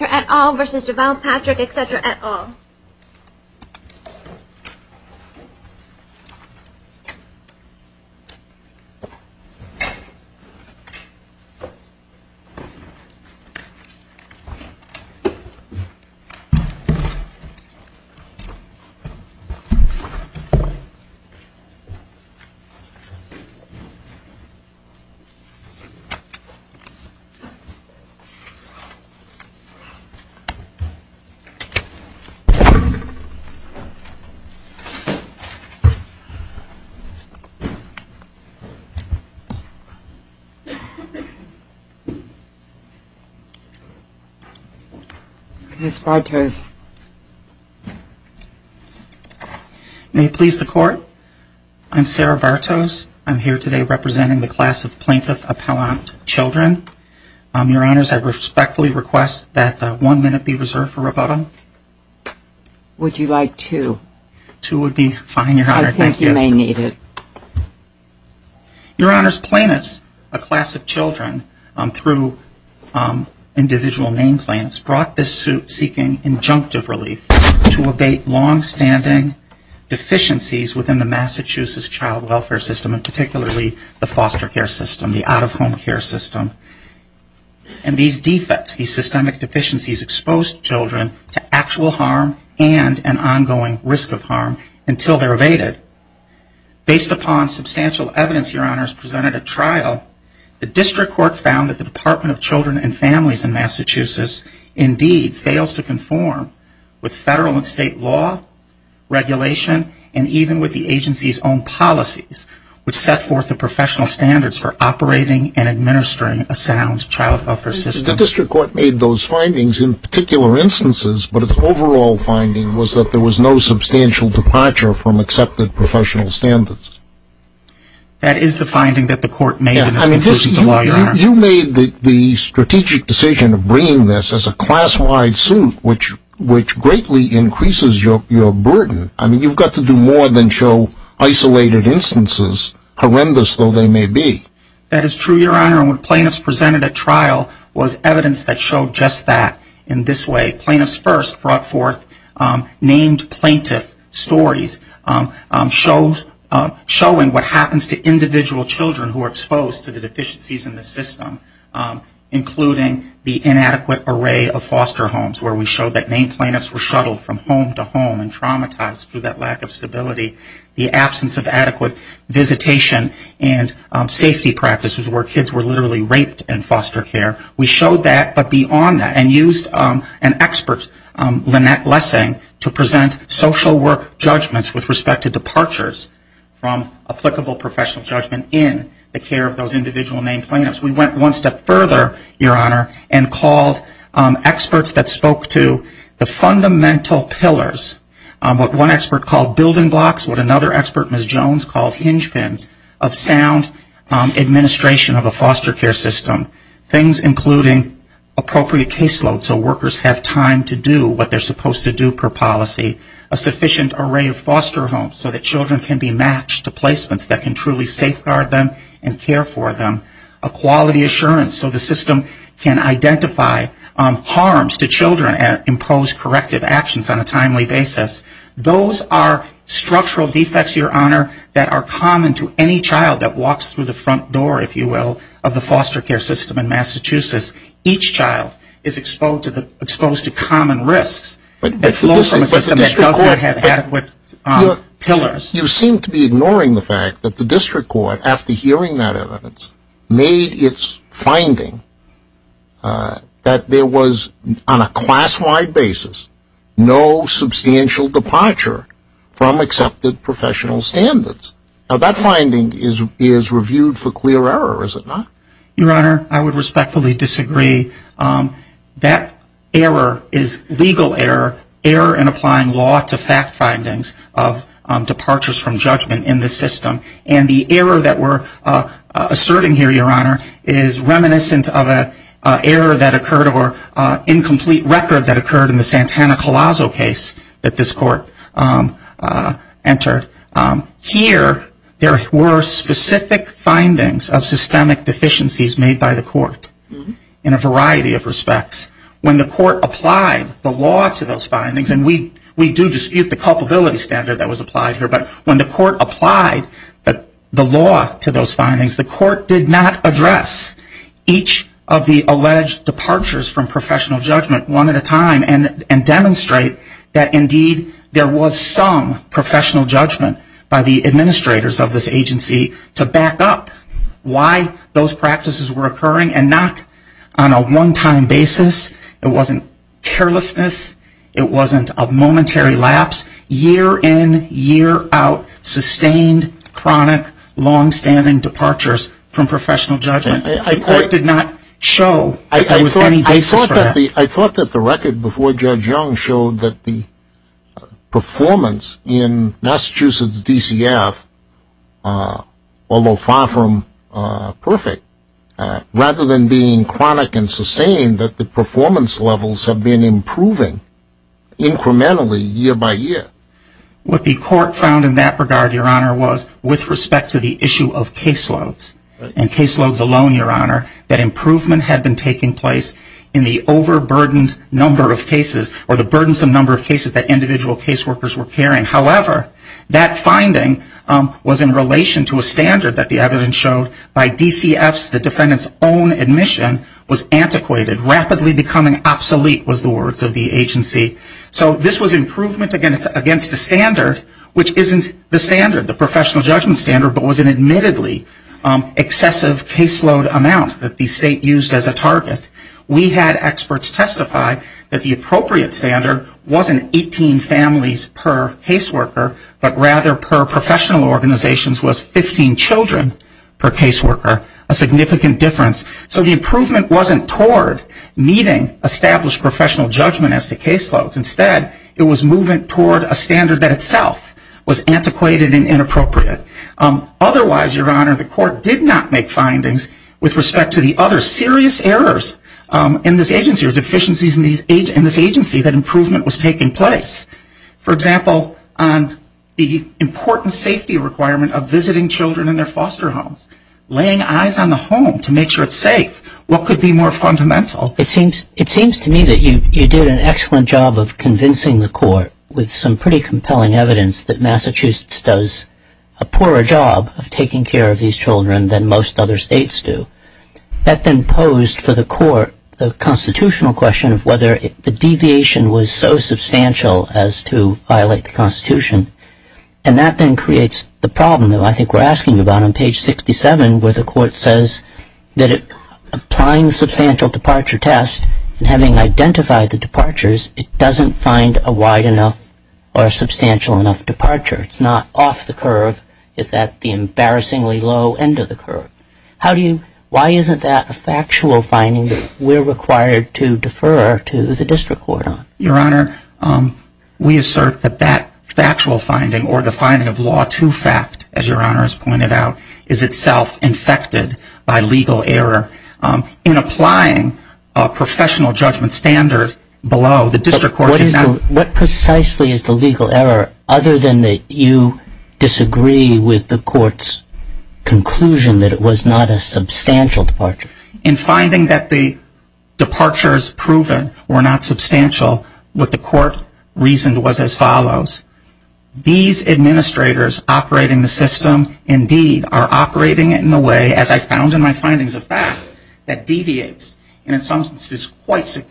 etc. et al. v. Deval Patrick etc. et al. Ms. Bartos. May it please the court, I'm Sarah Bartos. I'm here today representing the class of Plaintiff Appellant Children. Your Honors, I respectfully request that one minute be reserved for rebuttal. Would you like two? Two would be fine, Your Honor. I think you may need it. Your Honors, plaintiffs, a class of children through individual name plaintiffs, brought this suit seeking injunctive relief to abate long-standing deficiencies within the Massachusetts child welfare system, and particularly the foster care system, the out-of-home care system. And these defects, these systemic deficiencies expose children to actual harm and an ongoing risk of harm until they're abated. Based upon substantial evidence, Your Honors, presented at trial, the district court found that the Department of Children and Families in Massachusetts indeed fails to conform with federal and state law, regulation, and even with the agency's own policies, which set forth the professional standards for operating and administering a sound child welfare system. The district court made those findings in particular instances, but its overall finding was that there was no substantial departure from accepted professional standards. That is the finding that the court made. You made the strategic decision of bringing this as a class-wide suit, which greatly increases your burden. I mean, you've got to do more than show isolated instances, horrendous though they may be. That is true, Your Honor. And what plaintiffs presented at trial was evidence that showed just that in this way. Plaintiffs first brought forth named plaintiff stories showing what happens to individual children who are exposed to the deficiencies in the system, including the inadequate array of foster homes where we showed that named plaintiffs were shuttled from home to home and traumatized through that lack of stability. The absence of adequate visitation and safety practices where kids were literally raped in foster care. We showed that, but beyond that, and used an expert, Lynette Lessing, to present social work judgments with respect to departures from applicable professional judgment in the care of those individual named plaintiffs. We went one step further, Your Honor, and called experts that spoke to the fundamental pillars. What one expert called building blocks, what another expert, Ms. Jones, called hinge pins of sound administration of a foster care system. Things including appropriate caseload so workers have time to do what they're supposed to do per policy. A sufficient array of foster homes so that children can be matched to placements that can truly safeguard them and care for them. A quality assurance so the system can identify harms to children and impose corrective actions on a timely basis. Those are structural defects, Your Honor, that are common to any child that walks through the front door, if you will, of the foster care system in Massachusetts. Each child is exposed to common risks that flow from a system that doesn't have adequate pillars. You seem to be ignoring the fact that the district court, after hearing that evidence, made its finding that there was, on a class-wide basis, no substantial departure from accepted professional standards. Now, that finding is reviewed for clear error, is it not? Your Honor, I would respectfully disagree. That error is legal error, error in applying law to fact findings of departures from judgment in the system. And the error that we're asserting here, Your Honor, is reminiscent of an error that occurred or incomplete record that occurred in the Santana-Colazo case that this court entered. Here, there were specific findings of systemic deficiencies made by the court in a variety of ways. When the court applied the law to those findings, and we do dispute the culpability standard that was applied here, but when the court applied the law to those findings, the court did not address each of the alleged departures from professional judgment one at a time and demonstrate that, indeed, there was some professional judgment by the administrators of this agency to back up why those practices were occurring and not on a one-off basis. It wasn't a one-time basis, it wasn't carelessness, it wasn't a momentary lapse. Year in, year out, sustained, chronic, long-standing departures from professional judgment. The court did not show there was any basis for that. I thought that the record before Judge Young showed that the performance in Massachusetts DCF, although far from perfect, rather than being chronic and sustained, that the performance levels have been improving incrementally year by year. What the court found in that regard, Your Honor, was, with respect to the issue of caseloads, and caseloads alone, Your Honor, that improvement had been taking place in the overburdened number of cases, or the burdensome number of cases that individual caseworkers were carrying. However, that finding was in relation to a standard that the evidence showed by DCFs, the defendant's own admission, was antiquated, rapidly becoming obsolete was the words of the agency. So this was improvement against a standard, which isn't the standard, the professional judgment standard, but was an admittedly excessive caseload amount that the state used as a target. We had experts testify that the appropriate standard wasn't 18 families per caseworker, but rather per professional organizations was 15 children per caseworker, a significant difference. So the improvement wasn't toward meeting established professional judgment as to caseloads. Instead, it was moving toward a standard that itself was antiquated and inappropriate. Otherwise, Your Honor, the court did not make findings with respect to the other serious errors in this agency or deficiencies in this agency that improvement was taking place. For example, on the important safety requirement of visiting children in their foster homes, laying eyes on the home to make sure it's safe, what could be more fundamental? It seems to me that you did an excellent job of convincing the court with some pretty compelling evidence that Massachusetts does a poorer job of taking care of these children than most other states do. That then posed for the court the constitutional question of whether the deviation was so substantial as to violate the Constitution. And that then creates the problem that I think we're asking about on page 67, where the court says that applying the substantial departure test and having identified the departures, it doesn't find a wide enough or a substantial enough departure. It's not off the curve. It's at the embarrassingly low end of the curve. Why isn't that a factual finding that we're required to defer to the district court on? Your Honor, we assert that that factual finding or the finding of law to fact, as Your Honor has pointed out, is itself infected by legal error. In applying a professional judgment standard below, the district court does not find a substantial departure. So what precisely is the legal error, other than that you disagree with the court's conclusion that it was not a substantial departure? In finding that the departures proven were not substantial, what the court reasoned was as follows. These administrators operating the system indeed are operating it in a way, as I found in my findings, a fact that deviates, and in some instances quite far.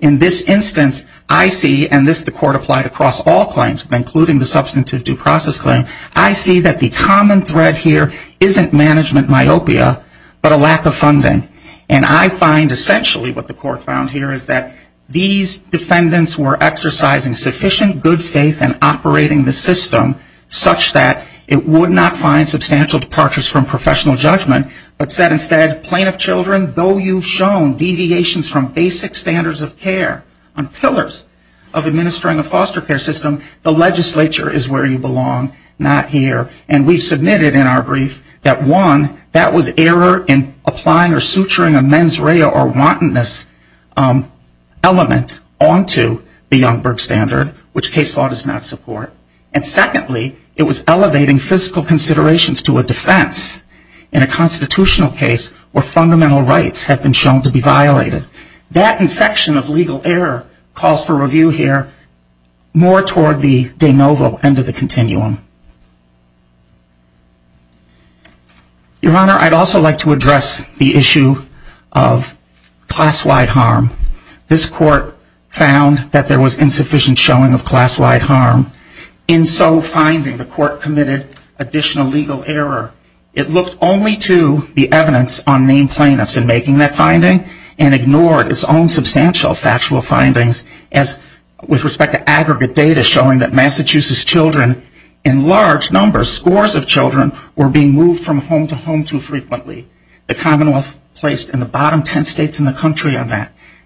In this instance, I see, and this the court applied across all claims, including the substantive due process claim, I see that the common thread here isn't management myopia, but a lack of funding. And I find essentially what the court found here is that these defendants were exercising sufficient good faith in operating the system such that it was not a substantial departure. If you look at the standards of care on pillars of administering a foster care system, the legislature is where you belong, not here. And we've submitted in our brief that one, that was error in applying or suturing a mens rea or wantonness element onto the Youngberg standard, which case law does not support. And secondly, it was elevating physical considerations to a defense in a constitutional case where fundamental rights have been shown to be violated. That infection of legal error calls for review here more toward the de novo end of the continuum. Your Honor, I'd also like to address the issue of class-wide harm. This court found that there was insufficient showing of class-wide harm. In so finding, the court committed additional legal error. It looked only to the evidence on named plaintiffs in making that finding and ignored its own substantial factual findings as with respect to aggregate data showing that Massachusetts children in large numbers, scores of children, were being moved from home to home too quickly. The court also found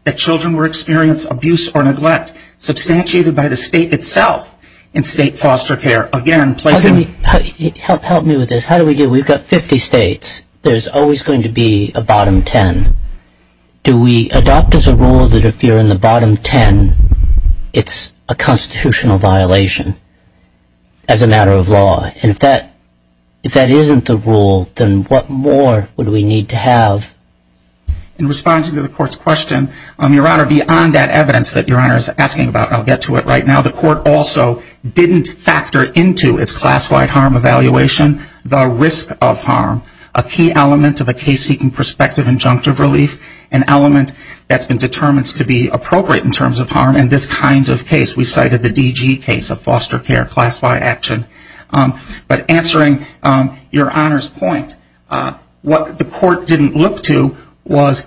that children were experiencing abuse or neglect substantiated by the state itself in state foster care. Again, placing... Help me with this. How do we do this? We've got 50 states. There's always going to be a bottom 10. Do we adopt as a rule that if you're in the bottom 10, it's a constitutional violation as a matter of law? And if that isn't the rule, then what more would we need to have? In response to the court's question, Your Honor, beyond that evidence that Your Honor is asking about, I'll get to it right now. The court also didn't factor into its class-wide harm evaluation the risk of harm, a key element of a case-seeking perspective injunctive relief, an element that's been determined to be appropriate in terms of harm in this kind of case. We cited the DG case, a foster care class-wide action. But answering Your Honor's point, what the court didn't look to was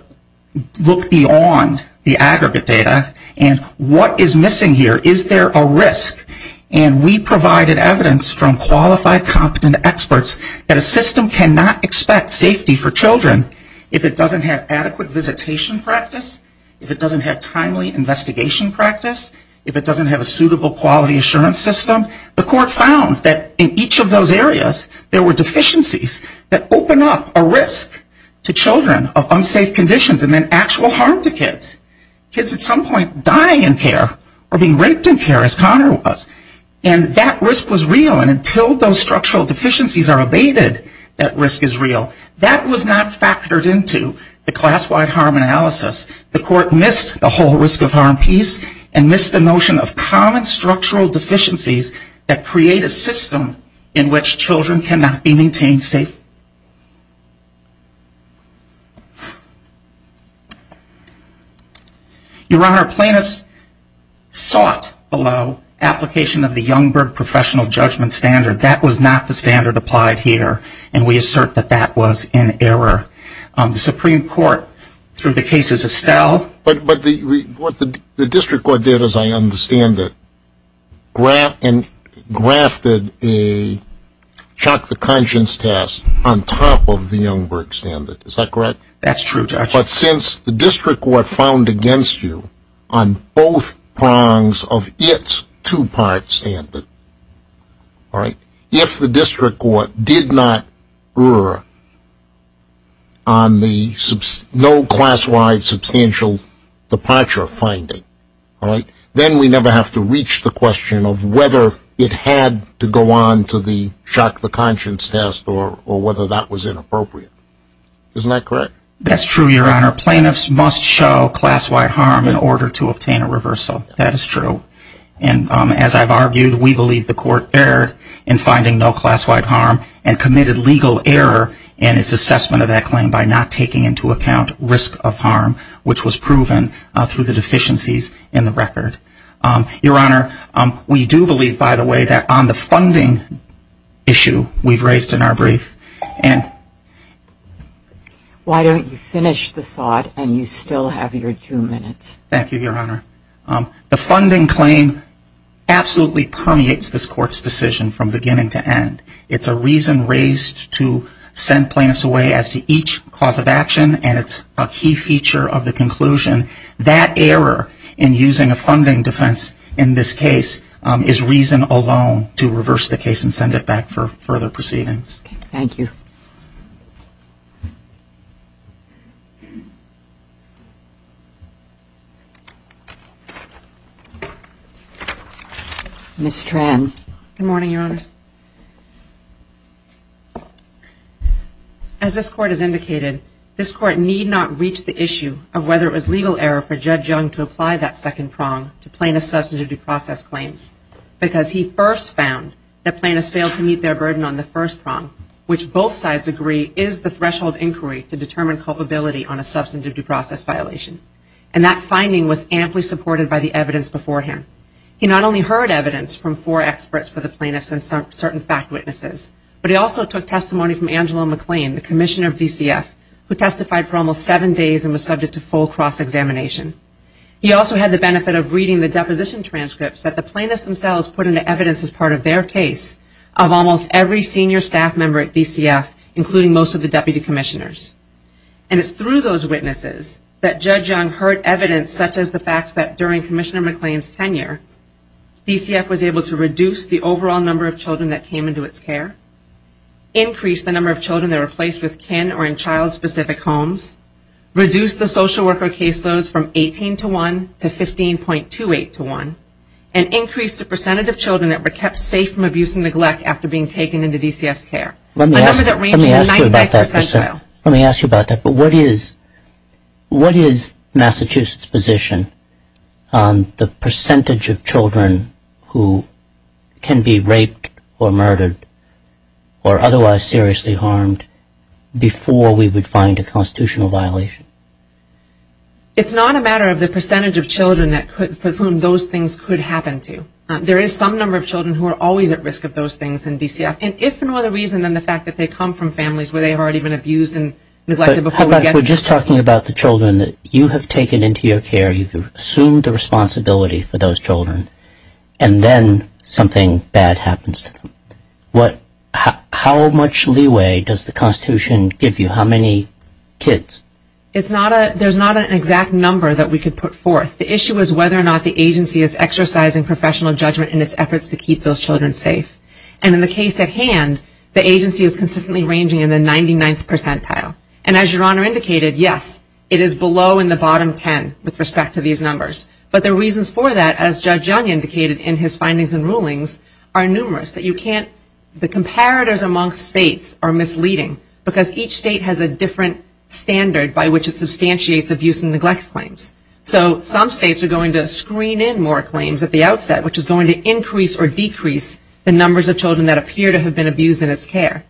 look beyond the aggregate data and what is missing here? Is there a risk? And we provided evidence from qualified, competent experts that a system cannot expect safety for children if it doesn't have adequate visitation practice, if it doesn't have timely investigation practice, if it doesn't have a suitable quality assurance system. The court found that in each of those areas, there were deficiencies that open up a risk to children of unsafe conditions and then actual harm to kids, kids at some point dying in care or being raped in care as Connor was. And that risk was real. And until those structural deficiencies are abated, that risk is real. That was not factored into the class-wide harm analysis. The court missed the whole risk of harm piece and missed the notion of common structural deficiencies that create a system in which children cannot be maintained safe. Your Honor, plaintiffs sought below application of the Youngberg professional judgment standard. That was not the standard applied here. And we assert that that was in error. The Supreme Court, through the cases of Stowell. But what the district court did, as I understand it, grafted a chock-the-conscience test on top of the Youngberg standard. Is that correct? That's true, Judge. But since the district court found against you on both prongs of its two-part standard, if the district court did not err on the no class-wide substantial departure finding, then we never have to reach the question of whether it had to go on to the chock-the-conscience test or whether that was inappropriate. Isn't that correct? That's true, Your Honor. Plaintiffs must show class-wide harm in order to obtain a reversal. That is true. And as I've argued, we believe the court erred in finding no class-wide harm and committed legal error in its assessment of that claim by not taking into account risk of harm, which was proven through the deficiencies in the record. Your Honor, we do believe, by the way, that on the funding issue we've raised in our brief. Why don't you finish the thought and you still have your two minutes. Thank you, Your Honor. The funding claim absolutely permeates this court's decision from beginning to end. It's a reason raised to send plaintiffs away as to each cause of action and it's a key feature of the conclusion. That error in using a funding defense in this case is reason alone to reverse the case and send it back for further proceedings. Thank you. Ms. Tran. Good morning, Your Honors. As this court has indicated, this court need not reach the issue of whether it was legal error for Judge Young to apply that second prong to plaintiff's substantive due process claims because he first found that plaintiffs failed to meet their burden on the first prong, which both sides agree is the threshold inquiry to determine culpability on a substantive due process violation. And that finding was amply supported by the evidence beforehand. He not only heard evidence from four experts for the plaintiffs and certain fact witnesses, but he also took testimony from Angelo McLean, the Commissioner of DCF, who testified for almost seven days and was subject to full cross-examination. He also had the benefit of reading the deposition transcripts that the plaintiffs themselves put into evidence as part of their case of almost every senior staff member at DCF, including most of the deputy commissioners. And it's through those witnesses that Judge Young heard evidence such as the fact that during Commissioner McLean's tenure, DCF was able to reduce the overall number of children that came into its care, increase the number of children that were placed with kin or in child-specific homes, reduce the social worker caseloads from 18 to 1 to 15.28 to 1, and increase the percentage of children that were kept safe from abuse and neglect after being taken into DCF's care. Let me ask you about that. What is Massachusetts' position on the percentage of children who can be raped or murdered or otherwise seriously harmed before we would find a constitutional violation? It's not a matter of the percentage of children for whom those things could happen to. There is some number of children who are always at risk of those things in DCF, and if for no other reason than the fact that they come from families where they have already been abused and neglected before we get to them. But we're just talking about the children that you have taken into your care, you've assumed the responsibility for those children, and then something bad happens to them. How much leeway does the Constitution give you? How many kids? There's not an exact number that we could put forth. The issue is whether or not the agency is exercising professional judgment in its efforts to keep those children safe. And in the case at hand, the agency is consistently ranging in the 99th percentile. And as Your Honor indicated, yes, it is below in the bottom 10 with respect to these numbers. But the reasons for that, as Judge Young indicated in his findings and rulings, are numerous. That you can't, the comparators amongst states are misleading, because each state has a different standard by which it substantiates abuse and neglect claims. So some states are going to screen in more claims at the outset, which is going to increase or decrease the numbers of children that appear to have been abused in its care.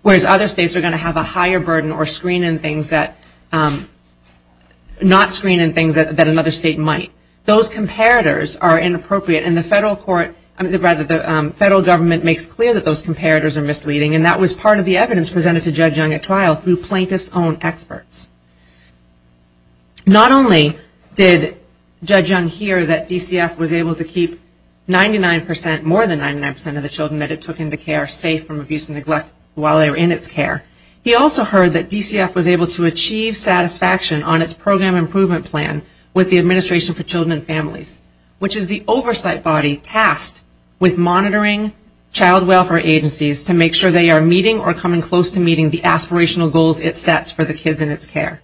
Whereas other states are going to have a higher burden or screen in things that, not screen in things that another state might. Those comparators are inappropriate and the federal court, rather the federal government makes clear that those comparators are misleading. And that was part of the evidence presented to Judge Young at trial through plaintiff's own experts. Not only did Judge Young hear that DCF was able to keep 99 percent, more than 99 percent of the children that it took into care safe from abuse and neglect while they were in its care. He also heard that DCF was able to achieve satisfaction on its program improvement plan with the Administration for Children and Families, which is the oversight body tasked with monitoring child welfare agencies to make sure they are meeting or coming close to meeting the aspirational goals it sets for the kids in its care.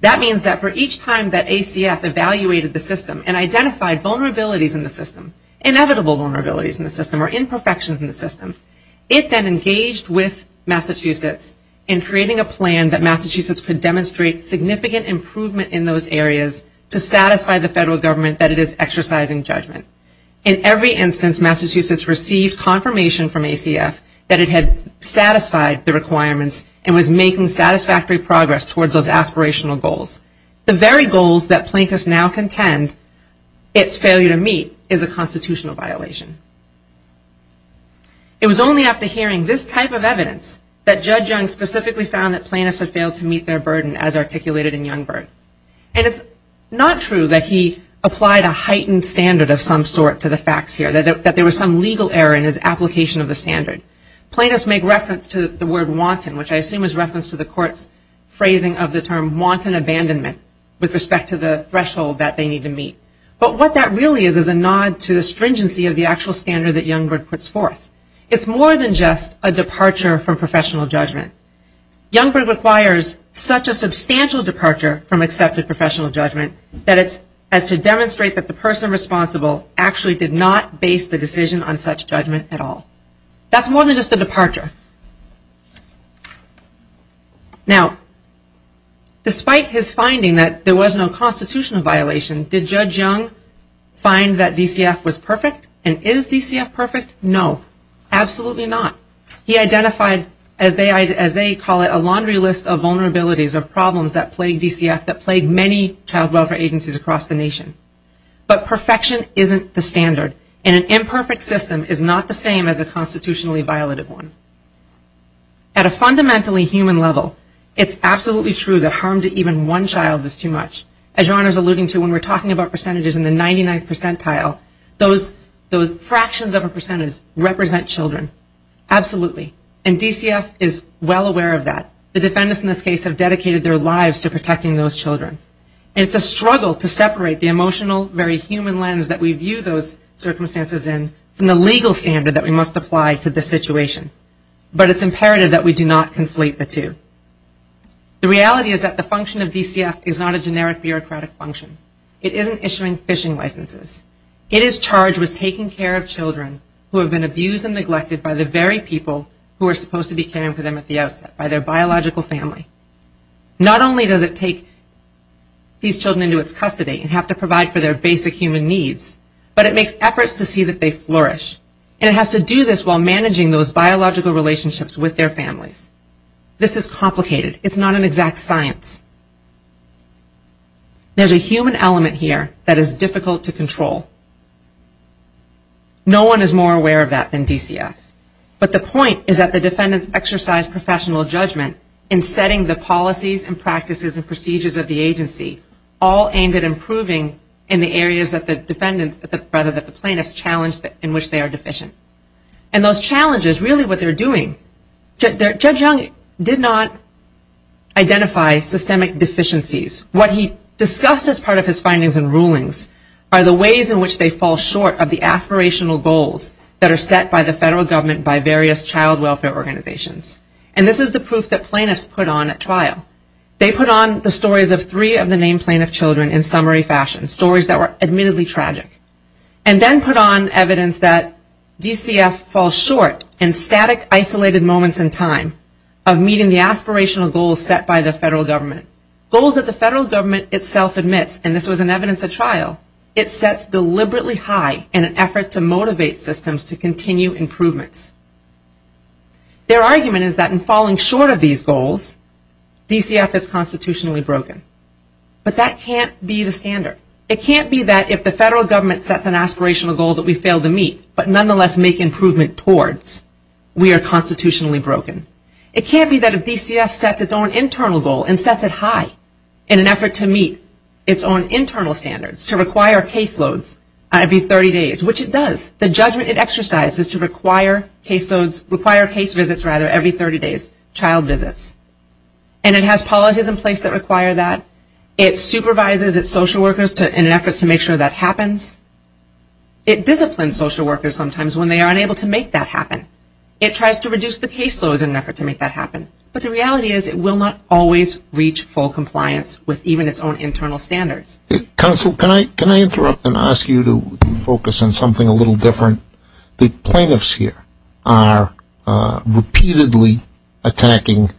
That means that for each time that ACF evaluated the system and identified vulnerabilities in the system, inevitable vulnerabilities in the system, or imperfections in the system, it then engaged with Massachusetts in creating a plan that Massachusetts could demonstrate significant improvement in those areas to satisfy the federal government that it is exercising judgment. In every instance, Massachusetts received confirmation from ACF that it had satisfied the requirements and was making satisfactory progress towards those aspirational goals. The very goals that plaintiffs now contend its failure to meet is a constitutional violation. It was only after hearing this type of evidence that Judge Young specifically found that plaintiffs had failed to meet their burden as articulated in Youngberg. And it's not true that he applied a heightened standard of some sort to the facts here, that there was some legal error in his application of the standard. Plaintiffs make reference to the word wanton, which I assume is reference to the court's phrasing of the term wanton abandonment with respect to the threshold that they need to meet. But what that really is is a nod to the stringency of the actual standard that Youngberg puts forth. It's more than just a departure from professional judgment. Youngberg requires such a substantial departure from accepted professional judgment as to demonstrate that the person responsible actually did not base the decision on such judgment at all. That's more than just a departure. Now, despite his finding that there was no constitutional violation, did Judge Young find that DCF was perfect? And is DCF perfect? No, absolutely not. He identified, as they call it, a laundry list of vulnerabilities or problems that plague DCF, that plague many child welfare agencies across the nation. But perfection isn't the standard, and an imperfect system is not the same as a constitutionally violated one. At a fundamentally human level, it's absolutely true that harm to even one child is too much. As Your Honor is alluding to, when we're talking about percentages in the 99th percentile, those fractions of a percentage represent children. Absolutely. And DCF is well aware of that. The defendants in this case have dedicated their lives to protecting those children. And it's a struggle to separate the emotional, very human lens that we view those circumstances in from the legal standard that we must apply to this situation. But it's imperative that we do not conflate the two. The reality is that the function of DCF is not a generic bureaucratic function. It isn't issuing fishing licenses. It is charged with taking care of children who have been abused and neglected by the very people who are supposed to be caring for them at the outset, by their biological family. Not only does it take these children into its custody and have to provide for their basic human needs, but it makes efforts to see that they flourish. And it has to do this while managing those biological relationships with their families. This is complicated. It's not an exact science. There's a human element here that is difficult to control. No one is more aware of that than DCF. But the point is that the defendants exercise professional judgment in setting the policies and practices and procedures of the agency, all aimed at improving in the areas that the defendants, rather that the plaintiffs challenge in which they are deficient. And those challenges, really what they're doing, Judge Young did not identify systemic deficiencies. What he discussed as part of his findings and rulings are the ways in which they fall short of the aspirational goals that are set by the federal government by various child welfare organizations. And this is the proof that plaintiffs put on at trial. They put on the stories of three of the named plaintiff children in summary fashion, stories that were admittedly tragic. And then put on evidence that DCF falls short in static isolated moments in time of meeting the aspirational goals set by the federal government. Goals that the federal government itself admits, and this was in evidence at trial, it sets deliberately high in an effort to motivate systems to continue improvements. Their argument is that in falling short of these goals, DCF is constitutionally broken. But that can't be the standard. It can't be that if the federal government sets an aspirational goal that we fail to meet, but nonetheless make improvement towards, we are constitutionally broken. It can't be that if DCF sets its own internal goal and sets it high in an effort to meet its own internal standards, to require caseloads every 30 days, which it does. The judgment it exercises to require caseloads, require case visits rather every 30 days, child visits. And it has policies in place that require that. It supervises its social workers in efforts to make sure that happens. It disciplines social workers sometimes when they are unable to make that happen. It tries to reduce the caseloads in an effort to make that happen. But the reality is it will not always reach full compliance with even its own internal standards. Counsel, can I interrupt and ask you to focus on something a little different? The plaintiffs here are repeatedly attacking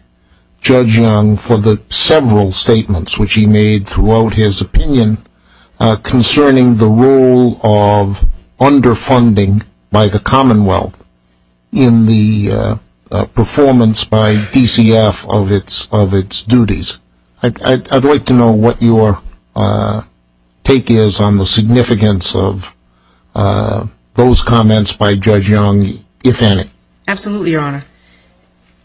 Judge Young for the several statements which he made throughout his opinion concerning the role of underfunding by the Commonwealth in the performance by DCF of its duties. I'd like to know what your take is on the significance of those comments by Judge Young, if any. Absolutely, Your Honor.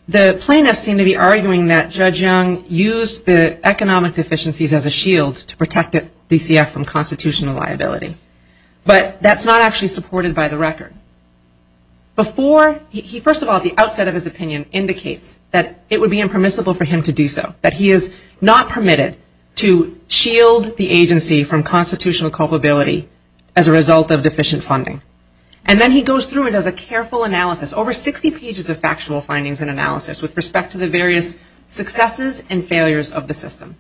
The plaintiffs seem to be arguing that Judge Young used the economic deficiencies as a shield to protect DCF from constitutional liability. But that's not actually supported by the record. Before, he first of all at the outset of his opinion indicates that it would be impermissible for him to do so, that he is not permitted to shield the agency from constitutional culpability as a result of deficient funding. And then he goes through and does a careful analysis, over 60 pages of factual findings and analysis with respect to the various successes and failures of the system.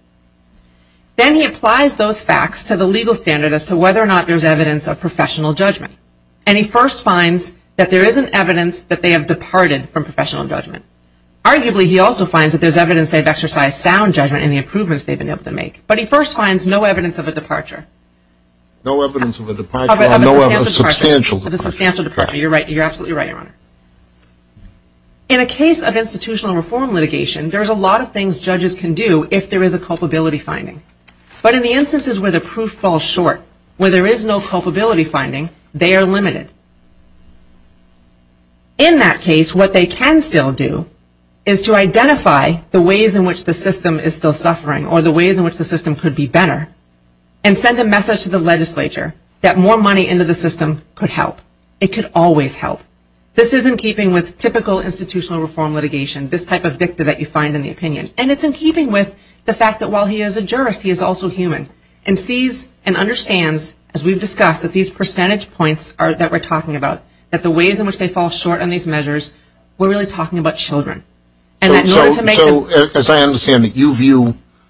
Then he applies those facts to the legal standard as to whether or not there's evidence of professional judgment. And he first finds that there isn't evidence that they have departed from professional judgment. Arguably, he also finds that there's evidence they've exercised sound judgment in the improvements they've been able to make. But he first finds no evidence of a departure. No evidence of a departure? Of a substantial departure. Of a substantial departure. You're absolutely right, Your Honor. In a case of institutional reform litigation, there's a lot of things judges can do if there is a culpability finding. But in the instances where the proof falls short, where there is no culpability finding, they are limited. In that case, what they can still do is to identify the ways in which the system is still suffering or the ways in which the system could be better and send a message to the legislature that more money into the system could help. It could always help. This is in keeping with typical institutional reform litigation, this type of dicta that you find in the opinion. And it's in keeping with the fact that while he is a jurist, he is also human and sees and understands, as we've discussed, that these percentage points that we're talking about, that the ways in which they fall short on these measures, we're really talking about children. So as I understand it, you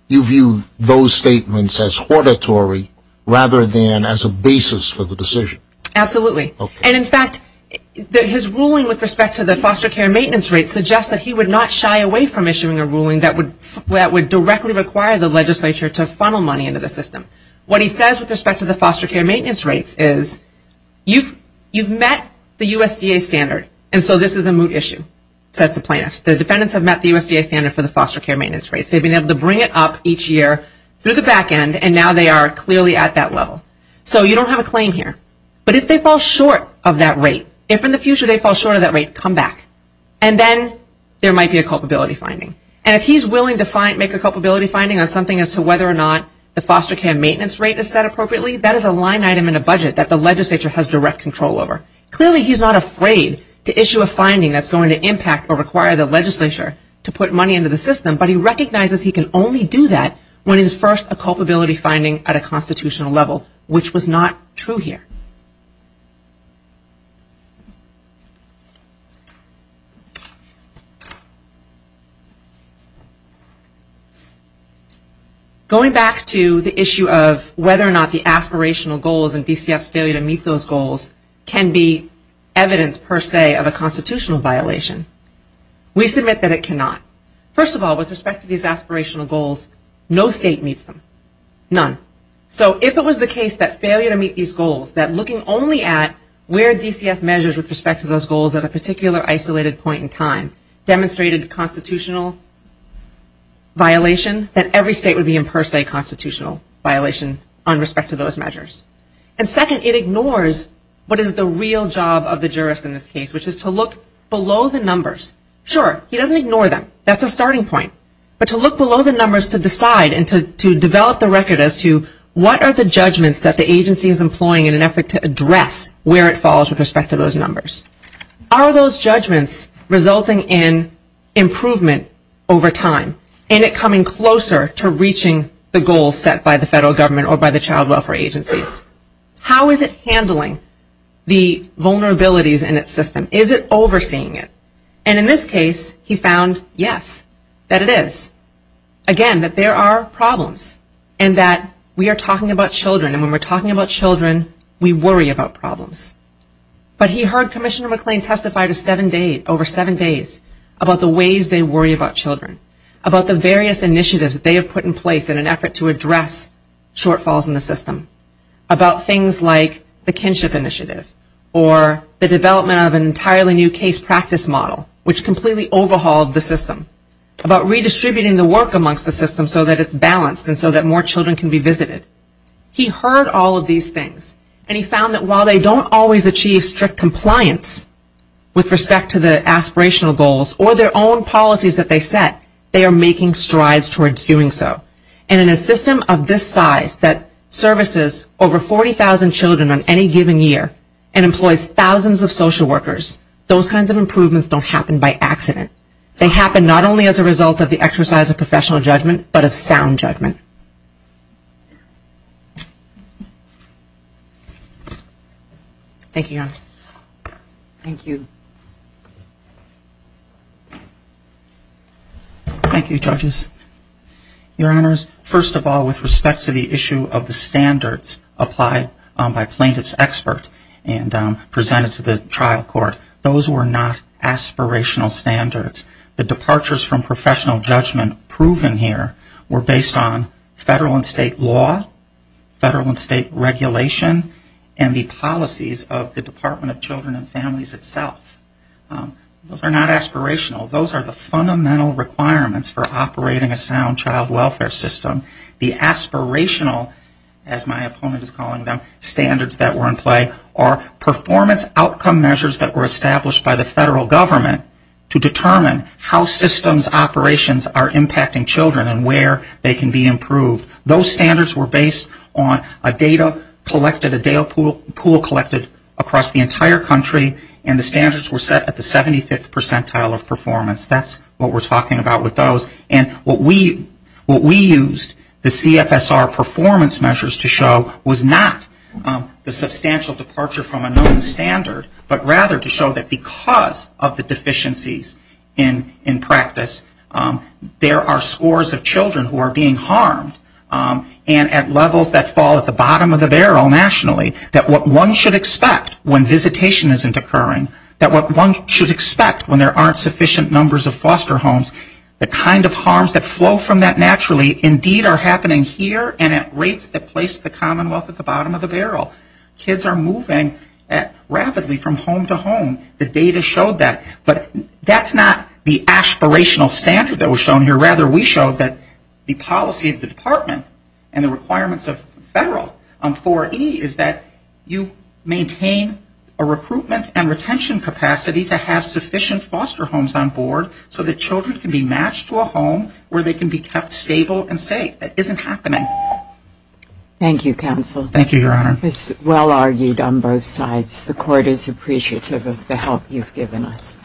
view those statements as hortatory rather than as a basis for the decision. Absolutely. And in fact, his ruling with respect to the foster care maintenance rate suggests that he would not shy away from issuing a ruling that would directly require the legislature to funnel money into the system. What he says with respect to the foster care maintenance rates is, you've met the USDA standard and so this is a moot issue, says the plaintiff. The defendants have met the USDA standard for the foster care maintenance rates. They've been able to bring it up each year through the back end and now they are clearly at that level. So you don't have a claim here. But if they fall short of that rate, if in the future they fall short of that rate, come back. And then there might be a culpability finding. And if he's willing to make a culpability finding on something as to whether or not the foster care maintenance rate is set appropriately, that is a line item in a budget that the legislature has direct control over. Clearly he's not afraid to issue a finding that's going to impact or require the legislature to put money into the system, but he recognizes he can only do that when it's first a culpability finding at a constitutional level, which was not true here. Going back to the issue of whether or not the aspirational goals and DCF's failure to meet those goals can be evidence per se of a constitutional violation. We submit that it cannot. First of all, with respect to these aspirational goals, no state meets them. None. So if it was the case that failure to meet these goals, that looking only at where DCF measures with respect to those goals at a particular isolated point in time demonstrated constitutional violation, that every state would be in per se a constitutional violation on respect to those measures. And second, it ignores what is the real job of the jurist in this case, which is to look below the numbers. Sure, he doesn't ignore them. That's a starting point. But to look below the numbers to decide and to develop the record as to what are the judgments that the agency is employing in an effort to address where it falls with respect to those numbers. Are those judgments resulting in improvement over time? Is it coming closer to reaching the goals set by the federal government or by the child welfare agencies? How is it handling the vulnerabilities in its system? Is it overseeing it? And in this case, he found, yes, that it is. Again, that there are problems and that we are talking about children and when we're talking about children, we worry about problems. But he heard Commissioner McClain testify to seven days, over seven days, about the ways they worry about children, about the various initiatives that they have put in place in an effort to address shortfalls in the system, about things like the kinship initiative or the development of an entirely new case practice model, which completely overhauled the system, about redistributing the work amongst the system so that it's balanced and so that more children can be visited. He heard all of these things. And he found that while they don't always achieve strict compliance with respect to the aspirational goals or their own policies that they set, they are making strides towards doing so. And in a system of this size that services over 40,000 children on any given year and employs thousands of social workers, those kinds of improvements don't happen by accident. They happen not only as a result of the exercise of professional judgment but of sound judgment. Thank you, Your Honors. Thank you. Thank you, Judges. Your Honors, first of all, with respect to the issue of the standards applied by plaintiff's expert and presented to the trial court, those were not aspirational standards. The departures from professional judgment proven here were based on federal and state law, federal and state regulation, and the policies of the Department of Children and Families itself. Those are not aspirational. Those are the fundamental requirements for operating a sound child welfare system. The aspirational, as my opponent is calling them, standards that were in play are performance outcome measures that were established by the federal government to determine how systems operations are impacting children and where they can be improved. Those standards were based on a data collected, a data pool collected across the entire country, and the standards were set at the 75th percentile of performance. That's what we're talking about with those. And what we used, the CFSR performance measures to show, was not the substantial departure from a known standard, but rather to show that because of the deficiencies in practice, there are scores of children who are being harmed, and at levels that fall at the bottom of the barrel nationally, that what one should expect when visitation isn't occurring, the rate of harms that flow from that naturally indeed are happening here and at rates that place the commonwealth at the bottom of the barrel. Kids are moving rapidly from home to home. The data showed that. But that's not the aspirational standard that was shown here. Rather, we showed that the policy of the department and the requirements of federal on 4E is that you maintain a recruitment and retention capacity to have sufficient foster homes on board so that children can be matched to a home where they can be kept stable and safe. That isn't happening. Thank you, counsel. Thank you, Your Honor. This is well argued on both sides. The court is appreciative of the help you've given us.